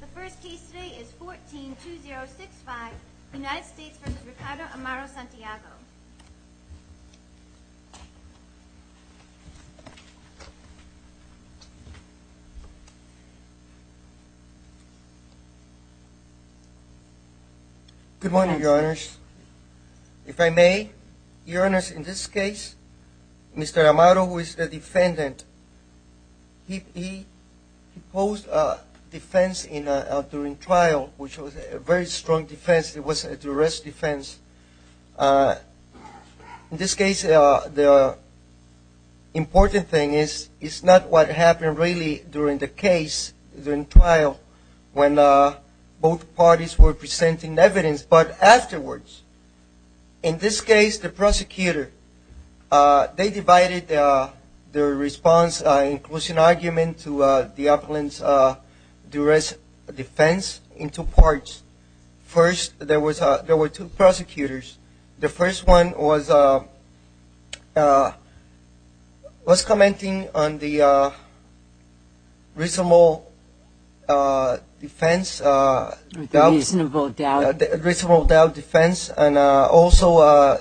The first case today is 14-2065, United States v. Ricardo Amaro-Santiago. Good morning, Your Honors. If I may, Your Honors, in this case, Mr. Amaro, who is the defendant, he posed defense during trial, which was a very strong defense. It was a duress defense. In this case, the important thing is, it's not what happened really during the case, during trial, when both parties were presenting evidence, but afterwards. In this case, the response includes an argument to the appellant's duress defense in two parts. First, there were two prosecutors. The first one was commenting on the reasonable doubt defense and also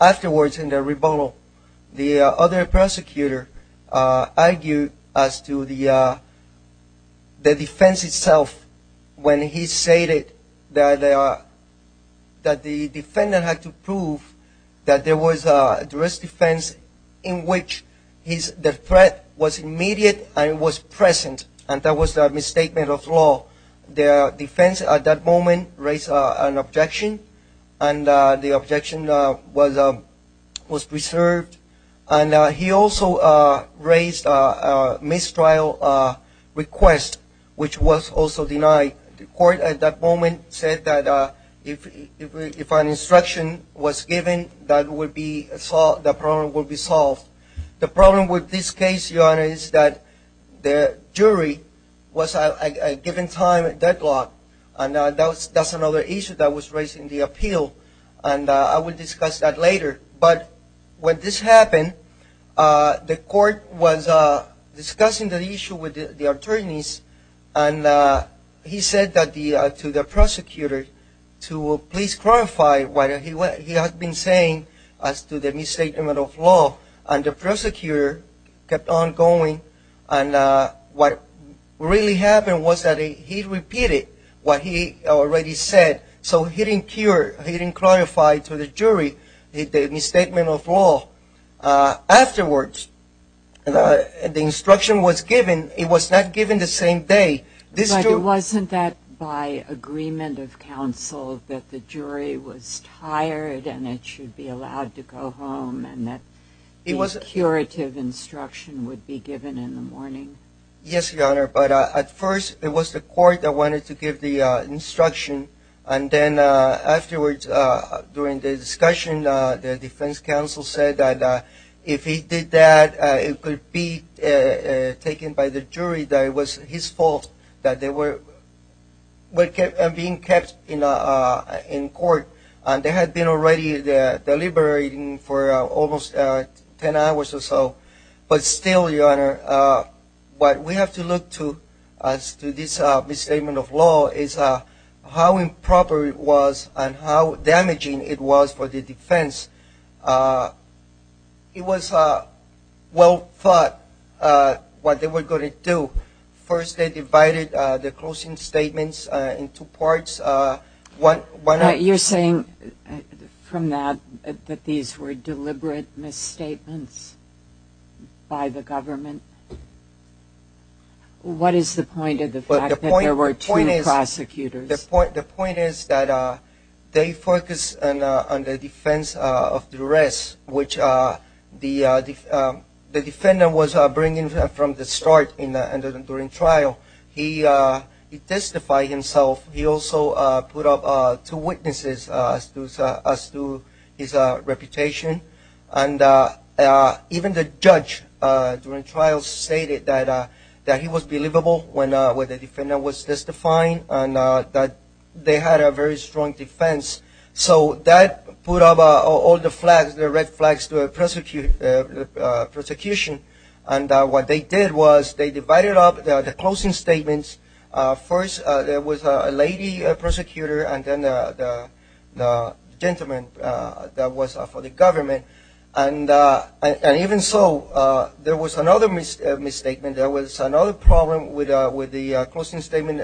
afterwards in the rebuttal. The other prosecutor argued as to the defense itself when he stated that the defendant had to prove that there was a duress defense in which the threat was immediate and it was present, and that was a misstatement of law. The defense at that moment raised an objection, and the objection was preserved. He also raised a mistrial request, which was also denied. The court at that moment said that if an instruction was given, the problem would be solved. The problem with this case, Your Honors, is that the jury was at a given time deadlocked, and that's another issue that was raised in the appeal, and I will discuss that later. But when this happened, the court was discussing the issue with the attorneys, and he said to the prosecutor to please clarify what he had been saying as to the misstatement of law, and the prosecutor kept on going, and what really happened was that he repeated what he already said, so he didn't clarify to the jury the misstatement of law. Afterwards, the instruction was given. It was not given the same day. But wasn't that by agreement of counsel that the jury was tired and it should be allowed to go home, and that the curative instruction would be given in the morning? Yes, Your Honor, but at first it was the court that wanted to give the instruction, and then afterwards, during the discussion, the defense counsel said that if he did that, it could be taken by the jury that it was his fault that they were being kept in court, and they had been already deliberating for almost 10 hours or so. But still, Your Honor, it was what we have to look to as to this misstatement of law is how improper it was and how damaging it was for the defense. It was well thought what they were going to do. First, they divided the closing statements into parts. You're saying from that that these were deliberate misstatements by the government? What is the point of the fact that there were two prosecutors? The point is that they focused on the defense of duress, which the defendant was bringing from the start during trial. He testified himself. He also put up two witnesses as to his reputation, and even the judge during trial stated that he was believable when the defendant was testifying and that they had a very strong defense. So that put up all the flags, the red flags to the prosecution, and what they did was they divided up the closing statements. First, there was a lady prosecutor, and then the gentleman, and then there was for the government. And even so, there was another misstatement. There was another problem with the closing statement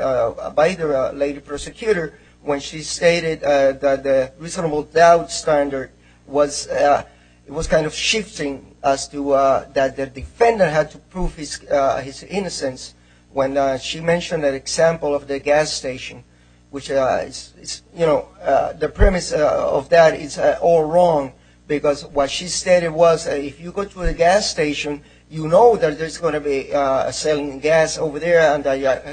by the lady prosecutor when she stated that the reasonable doubt standard was kind of shifting as to that the defendant had to prove his innocence when she mentioned that example of the gas station, which the premise of that is all wrong because what she stated was if you go to a gas station, you know that there's going to be selling gas over there and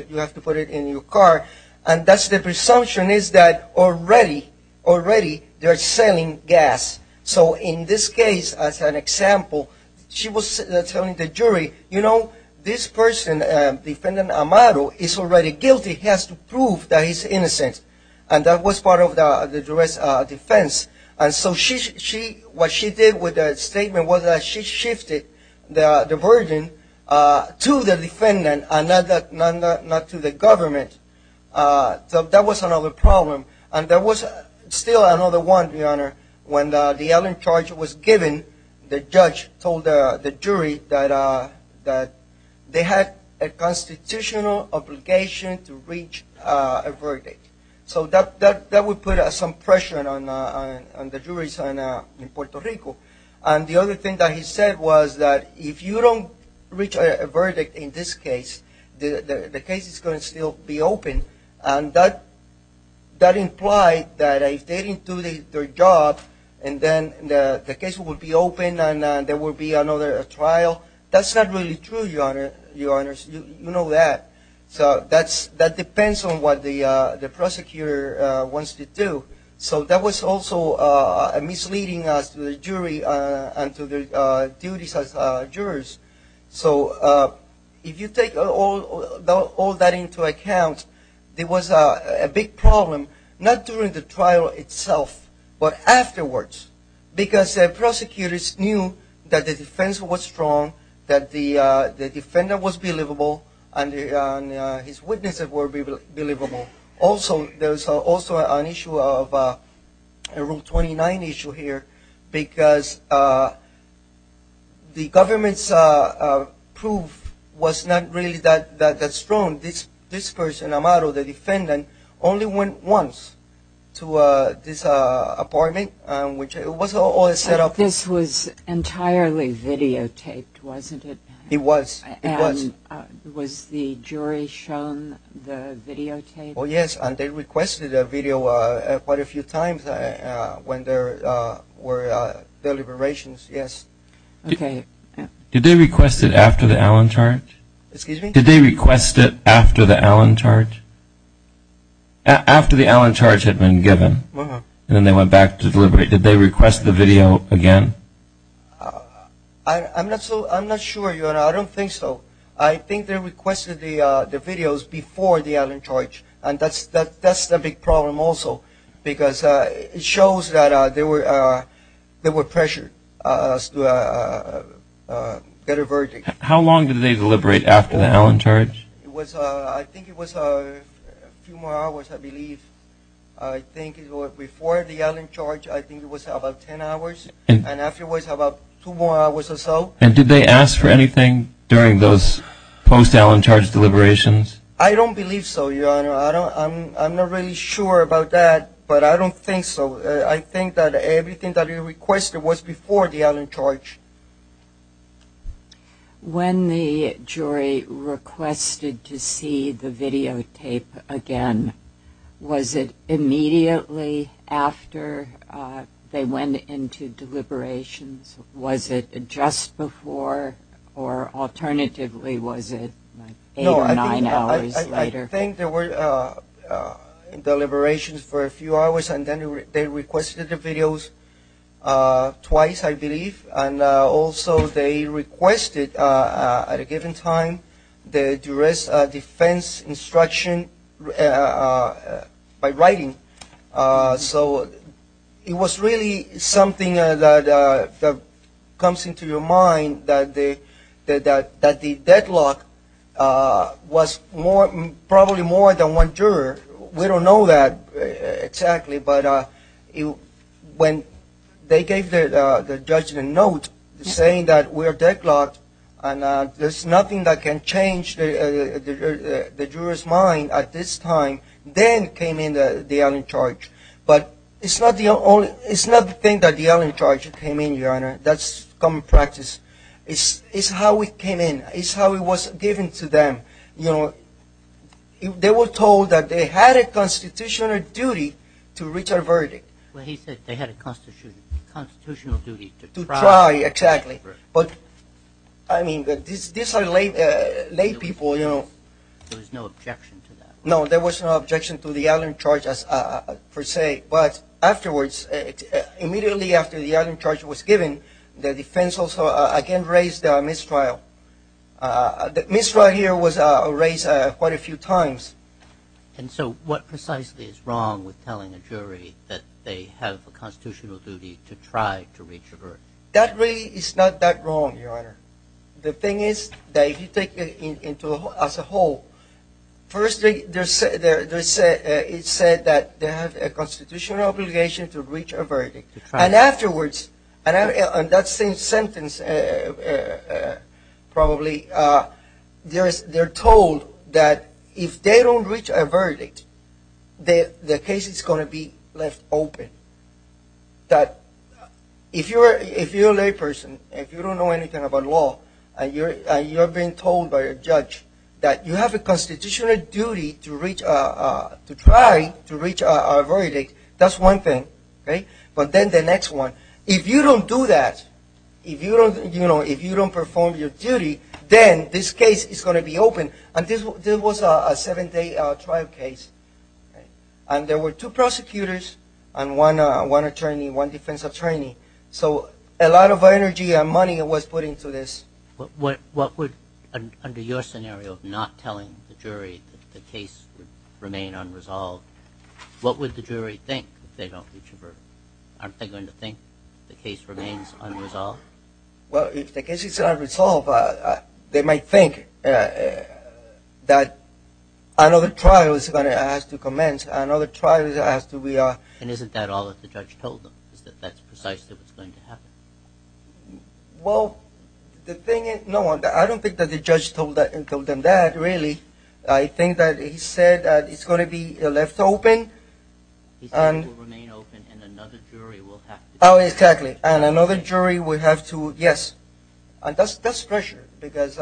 you have to put it in your car. And that's the presumption is that already, already they're selling gas. So in this case, as an example, she was telling the jury, you know, this person, defendant Amado, is already guilty. He has to prove that he's innocent. And that was part of the defense. And so what she did with that statement was that she shifted the burden to the defendant and not to the government. So that was another problem. And there was still another one, Your Honor, when the yelling charge was given, the judge told the jury that they had a constitutional obligation to reach a verdict. So that would put some pressure on the juries in Puerto Rico. And the other thing that he said was that if you don't reach a verdict in this case, the case is going to still be open. And that implied that if they didn't do their job, and then the case would be open and there would be another trial. That's not really true, Your Honor. That depends on what the prosecutor wants to do. So that was also misleading us to the jury and to the duties as jurors. So if you take all that into account, there was a big problem, not during the trial itself, but afterwards. Because the prosecutors knew that the defense was strong, that the defendant was believable, and his witnesses were believable. Also there was also an issue of a Rule 29 issue here, because the government's proof was not really that strong. This person, Amaro, the defendant, only went once to this apartment, which was all set up. But this was entirely videotaped, wasn't it? It was. And was the jury shown the videotape? Oh, yes. And they requested a video quite a few times when there were deliberations, yes. Did they request it after the Allentart? Excuse me? Did they request it after the Allentart? After the Allentart had been given, and then they went back to deliberate. Did they request the video again? I'm not sure. I don't think so. I think they requested the videos before the Allentart. And that's the big problem also. Because it shows that they were pressured to get a verdict. How long did they deliberate after the Allentart? I think it was a few more hours, I believe. I think it was before the Allentart, I think it was about ten hours. And afterwards, about two more hours or so. And did they ask for anything during those post-Allentart deliberations? I don't believe so, Your Honor. I'm not really sure about that, but I don't think so. I think that everything that they requested was before the Allentart. When the jury requested to see the videotape again, was it immediately after they went into deliberations? Was it just before? Or alternatively was it eight or nine hours later? No, I think there were deliberations for a few hours, and then they requested the videos twice, I believe. And also they requested at a given time the defense instruction by writing. So it was really something that comes into your mind that the deadlock was probably more than one juror. We don't know that exactly, but when they gave the judge the note saying that we're deadlocked and there's nothing that can change the juror's mind at this time, then came in the Allentart. But it's not the thing that the Allentart came in, Your Honor. That's common practice. It's how it came in. It's how it was given to them. They were told that they had a constitutional duty to reach a verdict. Well, he said they had a constitutional duty to try. To try, exactly. But, I mean, these are lay people, you know. There was no objection to that. No, there was no objection to the Allentart per se. But afterwards, immediately after the Allentart was given, the defense also again raised the mistrial. The mistrial here was raised quite a few times. And so what precisely is wrong with telling a jury that they have a constitutional duty to try to reach a verdict? That really is not that wrong, Your Honor. The thing is that if you take it as a whole, firstly, it said that they have a constitutional obligation to reach a verdict. And afterwards, on that same sentence probably, they're told that if they don't reach a verdict, the case is going to be left open. That if you're a layperson, if you don't know anything about law, and you're being told by a judge that you have a constitutional duty to try to reach a verdict, that's one thing. But then the next one, if you don't do that, if you don't perform your duty, then this case is going to be open. And this was a seven-day trial case. And there were two prosecutors and one attorney, one defense attorney. So a lot of energy and money was put into this. What would, under your scenario of not telling the jury that the case would remain unresolved, what would the jury think if they don't reach a verdict? Aren't they going to think the case remains unresolved? Well, if the case is unresolved, they might think that another trial is going to have to commence, another trial has to be... And isn't that all that the judge told them, that that's precisely what's going to happen? Well, the thing is, no, I don't think that the judge told them that, really. I think that he said that it's going to be left open. He said it will remain open and another jury will have to... Oh, exactly. And another jury will have to, yes. And that's pressure, because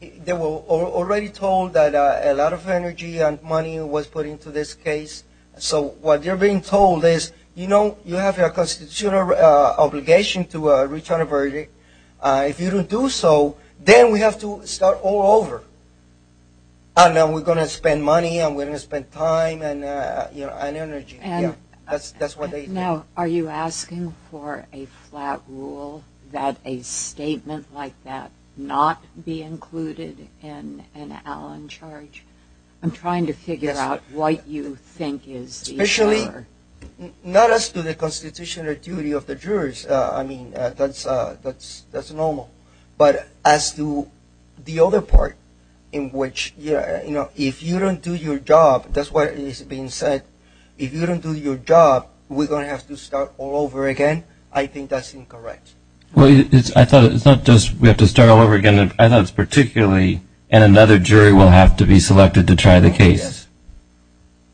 they were already told that a lot of energy and money was put into this case. So what they're being told is, you know, you have a constitutional obligation to reach a verdict. If you don't do so, then we have to start all over. And then we're going to spend money and we're going to spend time and energy. Now, are you asking for a flat rule, that a statement like that not be included in an Allen charge? I'm trying to figure out what you think is the... Especially, not as to the constitutional duty of the jurors. I mean, that's normal. But as to the other part, in which, you know, if you don't do your job, that's what is being said. If you don't do your job, we're going to have to start all over again. I think that's incorrect. Well, I thought it's not just we have to start all over again. I thought it's particularly and another jury will have to be selected to try the case.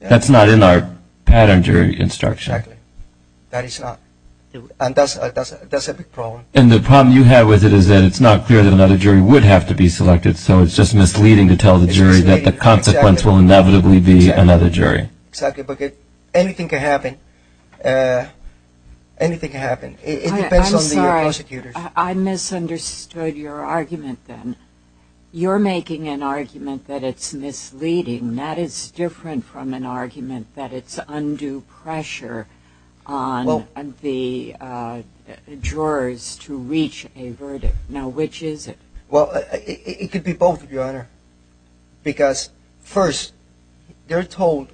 That's not in our pattern jury instruction. Exactly. That is not. And that's a big problem. And the problem you have with it is that it's not clear that another jury would have to be selected. So it's just misleading to tell the jury that the consequence will inevitably be another jury. Exactly. But anything can happen. Anything can happen. It depends on the prosecutors. I'm sorry. I misunderstood your argument then. You're making an argument that it's misleading. That is different from an argument that it's undue pressure on the jurors to reach a verdict. Now, which is it? Well, it could be both, Your Honor. Because first, they're told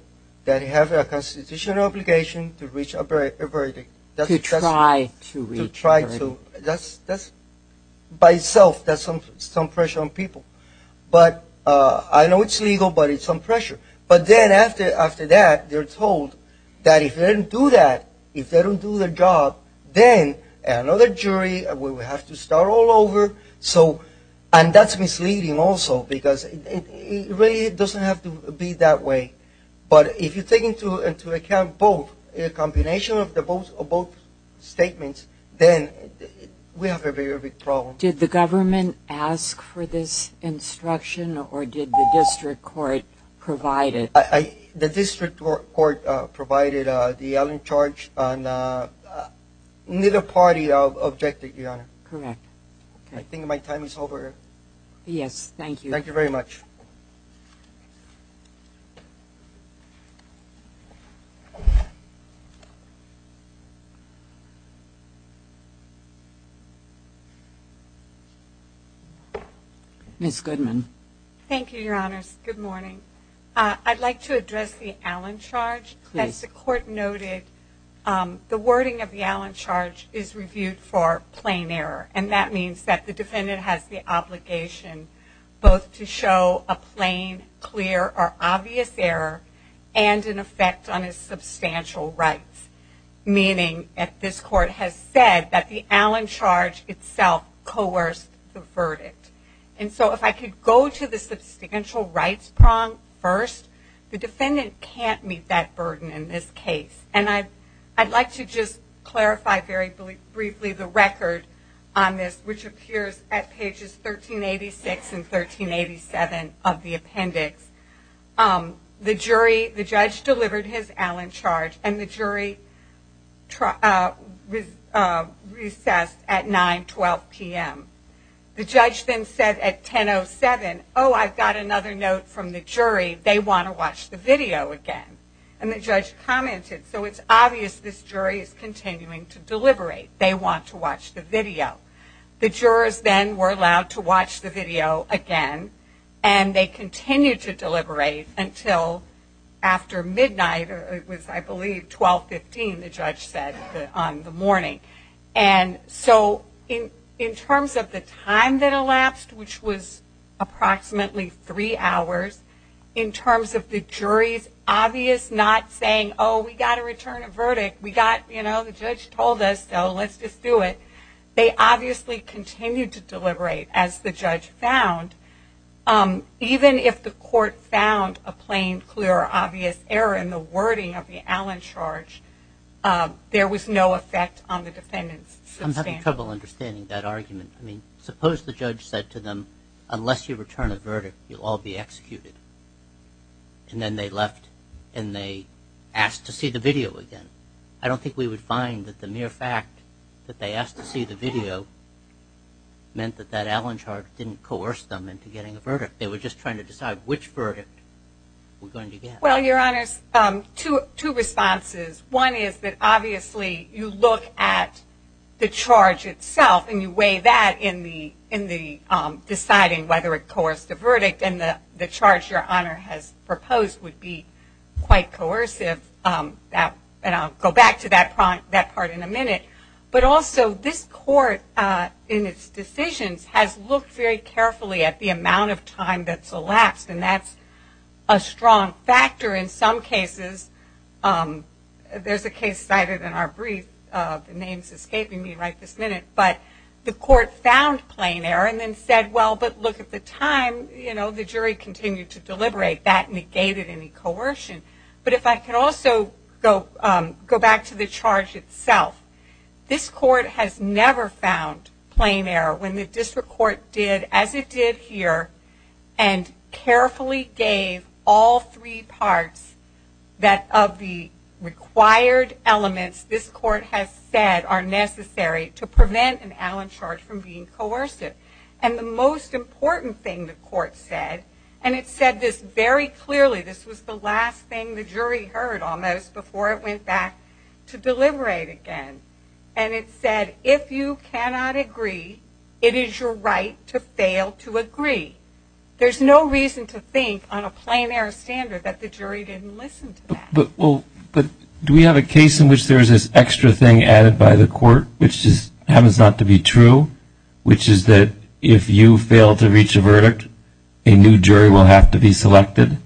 that they have a constitutional obligation to reach a verdict. To try to reach a verdict. By itself, that's some pressure on people. But I know it's legal, but it's some pressure. But then after that, they're told that if they don't do that, if they don't do their And that's misleading also, because it really doesn't have to be that way. But if you take into account both, a combination of both statements, then we have a very big problem. Did the government ask for this instruction, or did the district court provide it? The district court provided the Allen charge, and neither party objected, Your Honor. Correct. I think my time is over. Yes, thank you. Thank you very much. Ms. Goodman. Thank you, Your Honors. Good morning. I'd like to address the Allen charge. Please. As the court noted, the wording of the Allen charge is reviewed for plain error. And that means that the defendant has the obligation both to show a plain, clear, or obvious error, and an effect on his substantial rights. Meaning that this court has said that the Allen charge itself coerced the verdict. And so if I could go to the substantial rights prong first, the defendant can't meet that burden in this case. And I'd like to just clarify very briefly the record on this, which appears at pages 1386 and 1387 of the appendix. The judge delivered his Allen charge, and the jury recessed at 9, 12 p.m. The judge then said at 10.07, oh, I've got another note from the jury. They want to watch the video again. And the judge commented, so it's obvious this jury is continuing to deliberate. They want to watch the video. The jurors then were allowed to watch the video again, and they continued to deliberate until after midnight. It was, I believe, 12.15, the judge said on the morning. And so in terms of the time that elapsed, which was approximately three hours, in terms of the jury's obvious not saying, oh, we've got to return a verdict, we've got, you know, the judge told us, so let's just do it, they obviously continued to deliberate, as the judge found. Even if the court found a plain, clear, or obvious error in the wording of the Allen charge, there was no effect on the defendant's substance. I'm having trouble understanding that argument. I mean, suppose the judge said to them, unless you return a verdict, you'll all be executed. And then they left, and they asked to see the video again. I don't think we would find that the mere fact that they asked to see the video meant that that Allen charge didn't coerce them into getting a verdict. Well, Your Honors, two responses. One is that obviously you look at the charge itself, and you weigh that in the deciding whether it coerced the verdict, and the charge Your Honor has proposed would be quite coercive. And I'll go back to that part in a minute. But also this court, in its decisions, has looked very carefully at the amount of time that's elapsed, and that's a strong factor in some cases. There's a case cited in our brief. The name's escaping me right this minute. But the court found plain error and then said, well, but look at the time. The jury continued to deliberate. That negated any coercion. But if I can also go back to the charge itself, this court has never found plain error. When the district court did as it did here and carefully gave all three parts of the required elements this court has said are necessary to prevent an Allen charge from being coercive. And the most important thing the court said, and it said this very clearly. This was the last thing the jury heard almost before it went back to deliberate again. And it said, if you cannot agree, it is your right to fail to agree. There's no reason to think on a plain error standard that the jury didn't listen to that. But do we have a case in which there's this extra thing added by the court which just happens not to be true, which is that if you fail to reach a verdict, a new jury will have to be selected?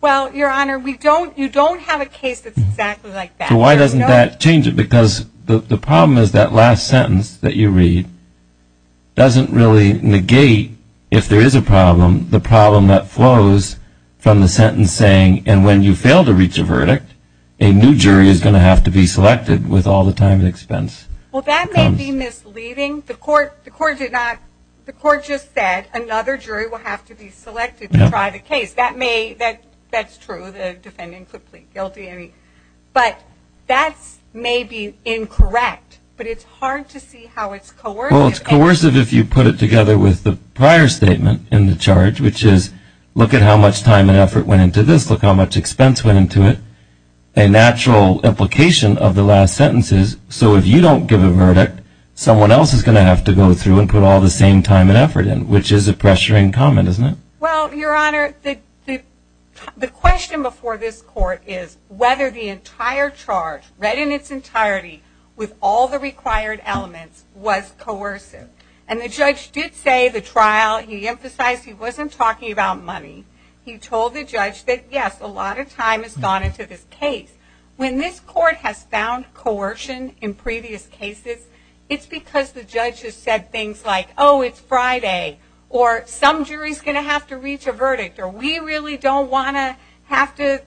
Well, Your Honor, you don't have a case that's exactly like that. So why doesn't that change it? Because the problem is that last sentence that you read doesn't really negate, if there is a problem, the problem that flows from the sentence saying, and when you fail to reach a verdict, a new jury is going to have to be selected with all the time and expense. Well, that may be misleading. The court just said another jury will have to be selected to try the case. That's true, the defendant could plead guilty. But that may be incorrect, but it's hard to see how it's coercive. Well, it's coercive if you put it together with the prior statement in the charge, which is, look at how much time and effort went into this, look how much expense went into it. A natural implication of the last sentence is, so if you don't give a verdict, someone else is going to have to go through and put all the same time and effort in, which is a pressure in common, isn't it? Well, Your Honor, the question before this court is whether the entire charge, read in its entirety with all the required elements, was coercive. And the judge did say the trial, he emphasized he wasn't talking about money. He told the judge that, yes, a lot of time has gone into this case. When this court has found coercion in previous cases, it's because the judge has said things like, oh, it's Friday, or some jury is going to have to reach a verdict, or we really don't want to have to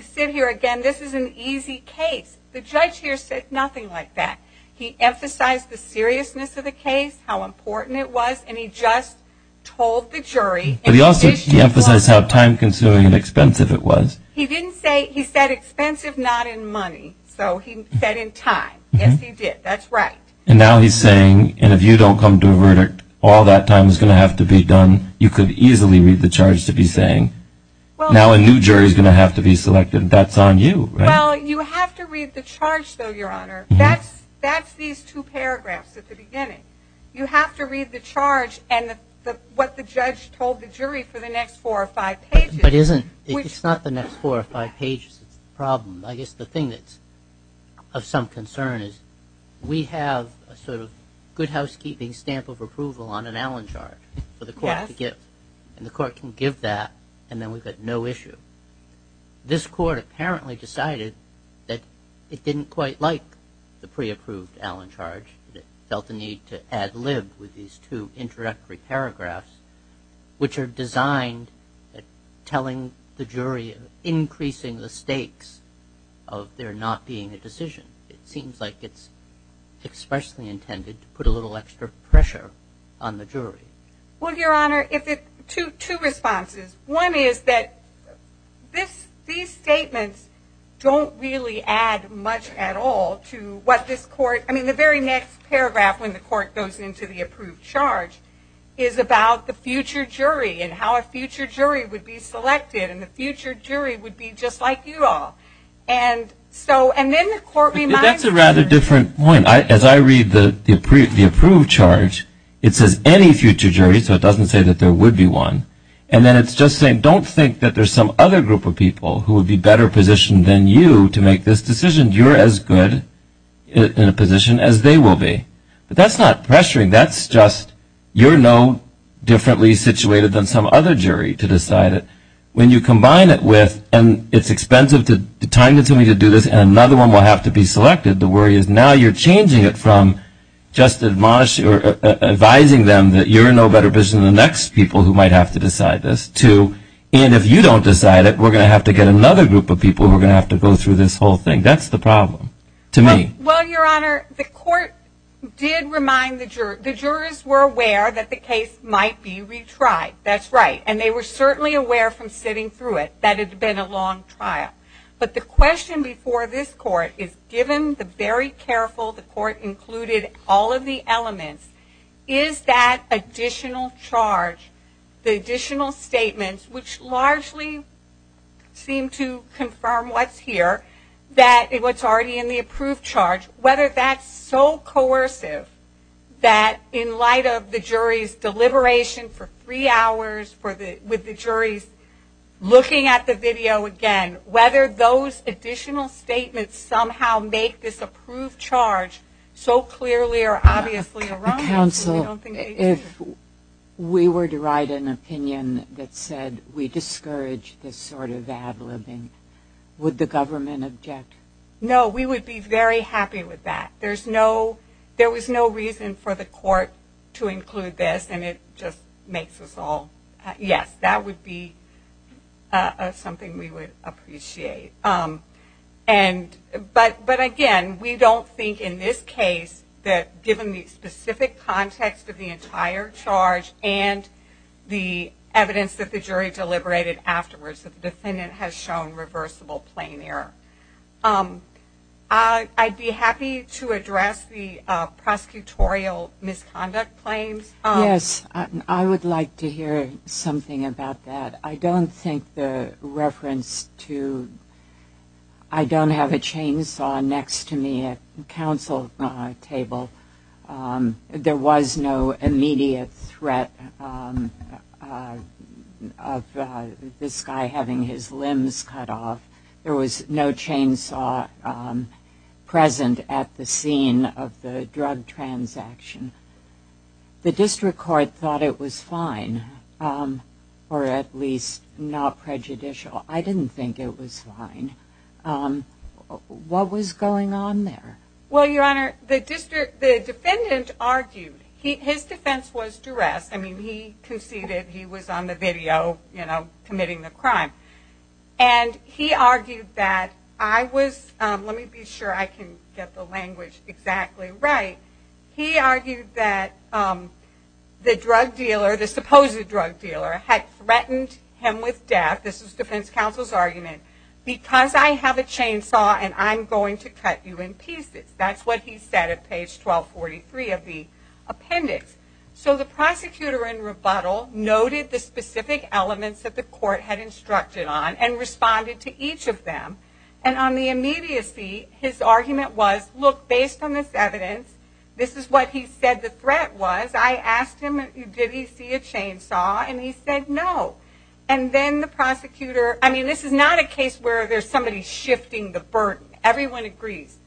sit here again. This is an easy case. The judge here said nothing like that. He emphasized the seriousness of the case, how important it was, and he just told the jury. But he also emphasized how time-consuming and expensive it was. He didn't say, he said expensive, not in money. So he said in time. Yes, he did. That's right. And now he's saying, and if you don't come to a verdict, all that time is going to have to be done. You could easily read the charge to be saying. Now a new jury is going to have to be selected. That's on you, right? Well, you have to read the charge, though, Your Honor. That's these two paragraphs at the beginning. You have to read the charge and what the judge told the jury for the next four or five pages. It's not the next four or five pages that's the problem. I guess the thing that's of some concern is we have a sort of good housekeeping stamp of approval on an Allen charge. Yes. And the court can give that, and then we've got no issue. This court apparently decided that it didn't quite like the pre-approved Allen charge. It felt the need to ad lib with these two introductory paragraphs, which are designed at telling the jury, increasing the stakes of there not being a decision. It seems like it's expressly intended to put a little extra pressure on the jury. Well, Your Honor, two responses. One is that these statements don't really add much at all to what this court, I mean, the very next paragraph when the court goes into the approved charge is about the future jury and how a future jury would be selected, and the future jury would be just like you all. And then the court reminds the jury. That's a rather different point. As I read the approved charge, it says any future jury, so it doesn't say that there would be one. And then it's just saying don't think that there's some other group of people who would be better positioned than you to make this decision. You're as good in a position as they will be. But that's not pressuring. That's just you're no differently situated than some other jury to decide it. When you combine it with and it's expensive to time consuming to do this and another one will have to be selected, the worry is now you're changing it from just advising them that you're no better positioned than the next people who might have to decide this to, and if you don't decide it, we're going to have to get another group of people who are going to have to go through this whole thing. That's the problem to me. Well, Your Honor, the court did remind the jury. The jurors were aware that the case might be retried. That's right. And they were certainly aware from sitting through it that it had been a long trial. But the question before this court is given the very careful, the court included all of the elements, is that additional charge, the additional statements, which largely seem to confirm what's here, that what's already in the approved charge, whether that's so coercive that in light of the jury's deliberation for three hours with the juries looking at the video again, whether those additional statements somehow make this approved charge so clearly or obviously wrong. Counsel, if we were to write an opinion that said we discourage this sort of ad libbing, would the government object? No, we would be very happy with that. There was no reason for the court to include this, and it just makes us all, yes, that would be something we would appreciate. But again, we don't think in this case that given the specific context of the entire charge and the evidence that the jury deliberated afterwards that the defendant has shown reversible plain error. I'd be happy to address the prosecutorial misconduct claims. Yes, I would like to hear something about that. I don't think the reference to, I don't have a chainsaw next to me at counsel table. There was no immediate threat of this guy having his limbs cut off. There was no chainsaw present at the scene of the drug transaction. The district court thought it was fine, or at least not prejudicial. I didn't think it was fine. What was going on there? Well, Your Honor, the defendant argued. His defense was duress. I mean, he conceded he was on the video, you know, committing the crime. And he argued that I was, let me be sure I can get the language exactly right. He argued that the drug dealer, the supposed drug dealer, had threatened him with death. This was defense counsel's argument. Because I have a chainsaw and I'm going to cut you in pieces. That's what he said at page 1243 of the appendix. So the prosecutor in rebuttal noted the specific elements that the court had instructed on and responded to each of them. And on the immediacy, his argument was, look, based on this evidence, this is what he said the threat was. I asked him, did he see a chainsaw, and he said no. And then the prosecutor, I mean, this is not a case where there's somebody shifting the burden. Everyone agrees.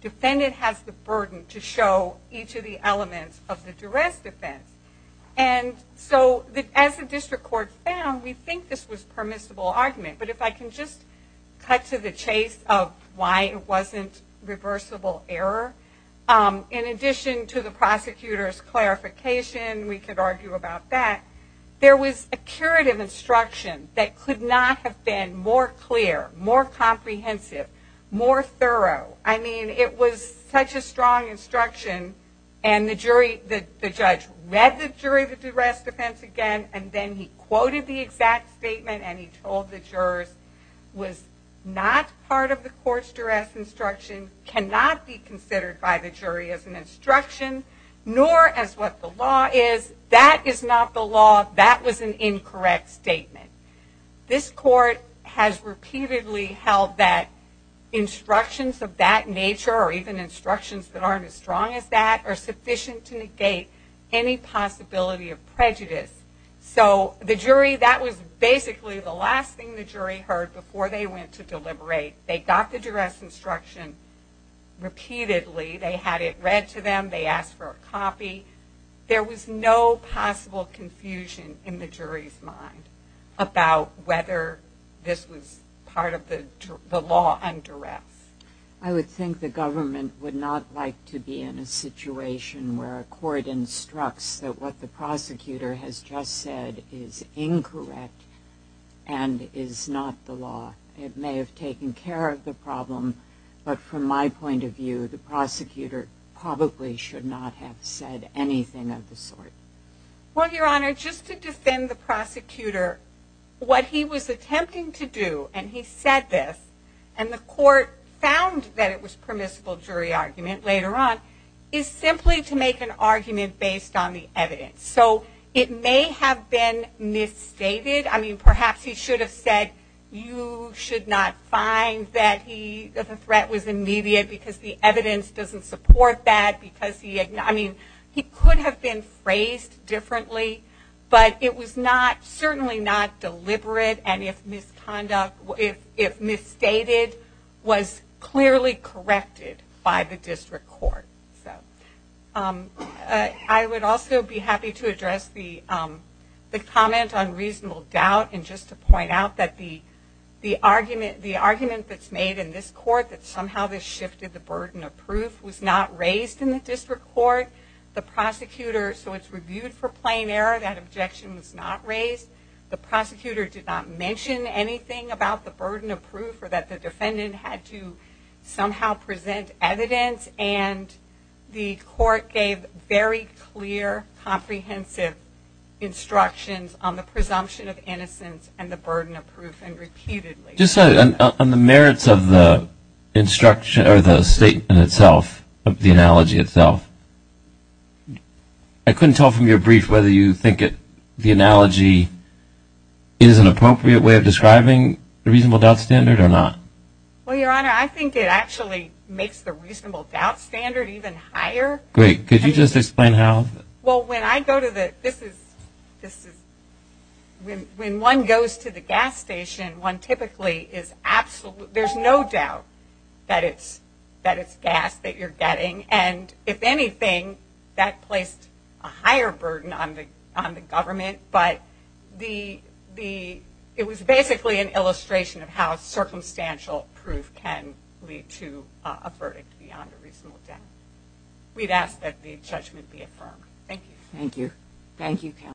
Defendant has the burden to show each of the elements of the duress defense. And so as the district court found, we think this was permissible argument. But if I can just cut to the chase of why it wasn't reversible error, in addition to the prosecutor's clarification, we could argue about that, there was a curative instruction that could not have been more clear, more comprehensive, more thorough. I mean, it was such a strong instruction, and the jury, the judge read the jury of the duress defense again, and then he quoted the exact statement, and he told the jurors, was not part of the court's duress instruction, cannot be considered by the jury as an instruction, nor as what the law is. That is not the law. That was an incorrect statement. This court has repeatedly held that instructions of that nature, or even instructions that aren't as strong as that, are sufficient to negate any possibility of prejudice. So the jury, that was basically the last thing the jury heard before they went to deliberate. They got the duress instruction repeatedly. They had it read to them. They asked for a copy. There was no possible confusion in the jury's mind about whether this was part of the law on duress. I would think the government would not like to be in a situation where a court instructs that what the prosecutor has just said is incorrect and is not the law. It may have taken care of the problem, but from my point of view, the prosecutor probably should not have said anything of the sort. Well, Your Honor, just to defend the prosecutor, what he was attempting to do, and he said this, and the court found that it was permissible jury argument later on, is simply to make an argument based on the evidence. So it may have been misstated. I mean, perhaps he should have said, you should not find that the threat was immediate because the evidence doesn't support that. I mean, he could have been phrased differently, but it was certainly not deliberate, and if misconduct, if misstated, was clearly corrected by the district court. I would also be happy to address the comment on reasonable doubt, and just to point out that the argument that's made in this court, that somehow this shifted the burden of proof, was not raised in the district court. The prosecutor, so it's reviewed for plain error. That objection was not raised. The prosecutor did not mention anything about the burden of proof, or that the defendant had to somehow present evidence, and the court gave very clear, comprehensive instructions on the presumption of innocence and the burden of proof, and repeatedly. Just on the merits of the instruction, or the statement itself, the analogy itself, I couldn't tell from your brief whether you think the analogy is an appropriate way of describing the reasonable doubt standard or not. Well, Your Honor, I think it actually makes the reasonable doubt standard even higher. Great. Could you just explain how? Well, when I go to the, this is, when one goes to the gas station, one typically is absolutely, there's no doubt that it's gas that you're getting, and if anything, that placed a higher burden on the government, but the, it was basically an illustration of how circumstantial proof can lead to a verdict beyond a reasonable doubt. We'd ask that the judgment be affirmed. Thank you. Thank you. Thank you, counsel.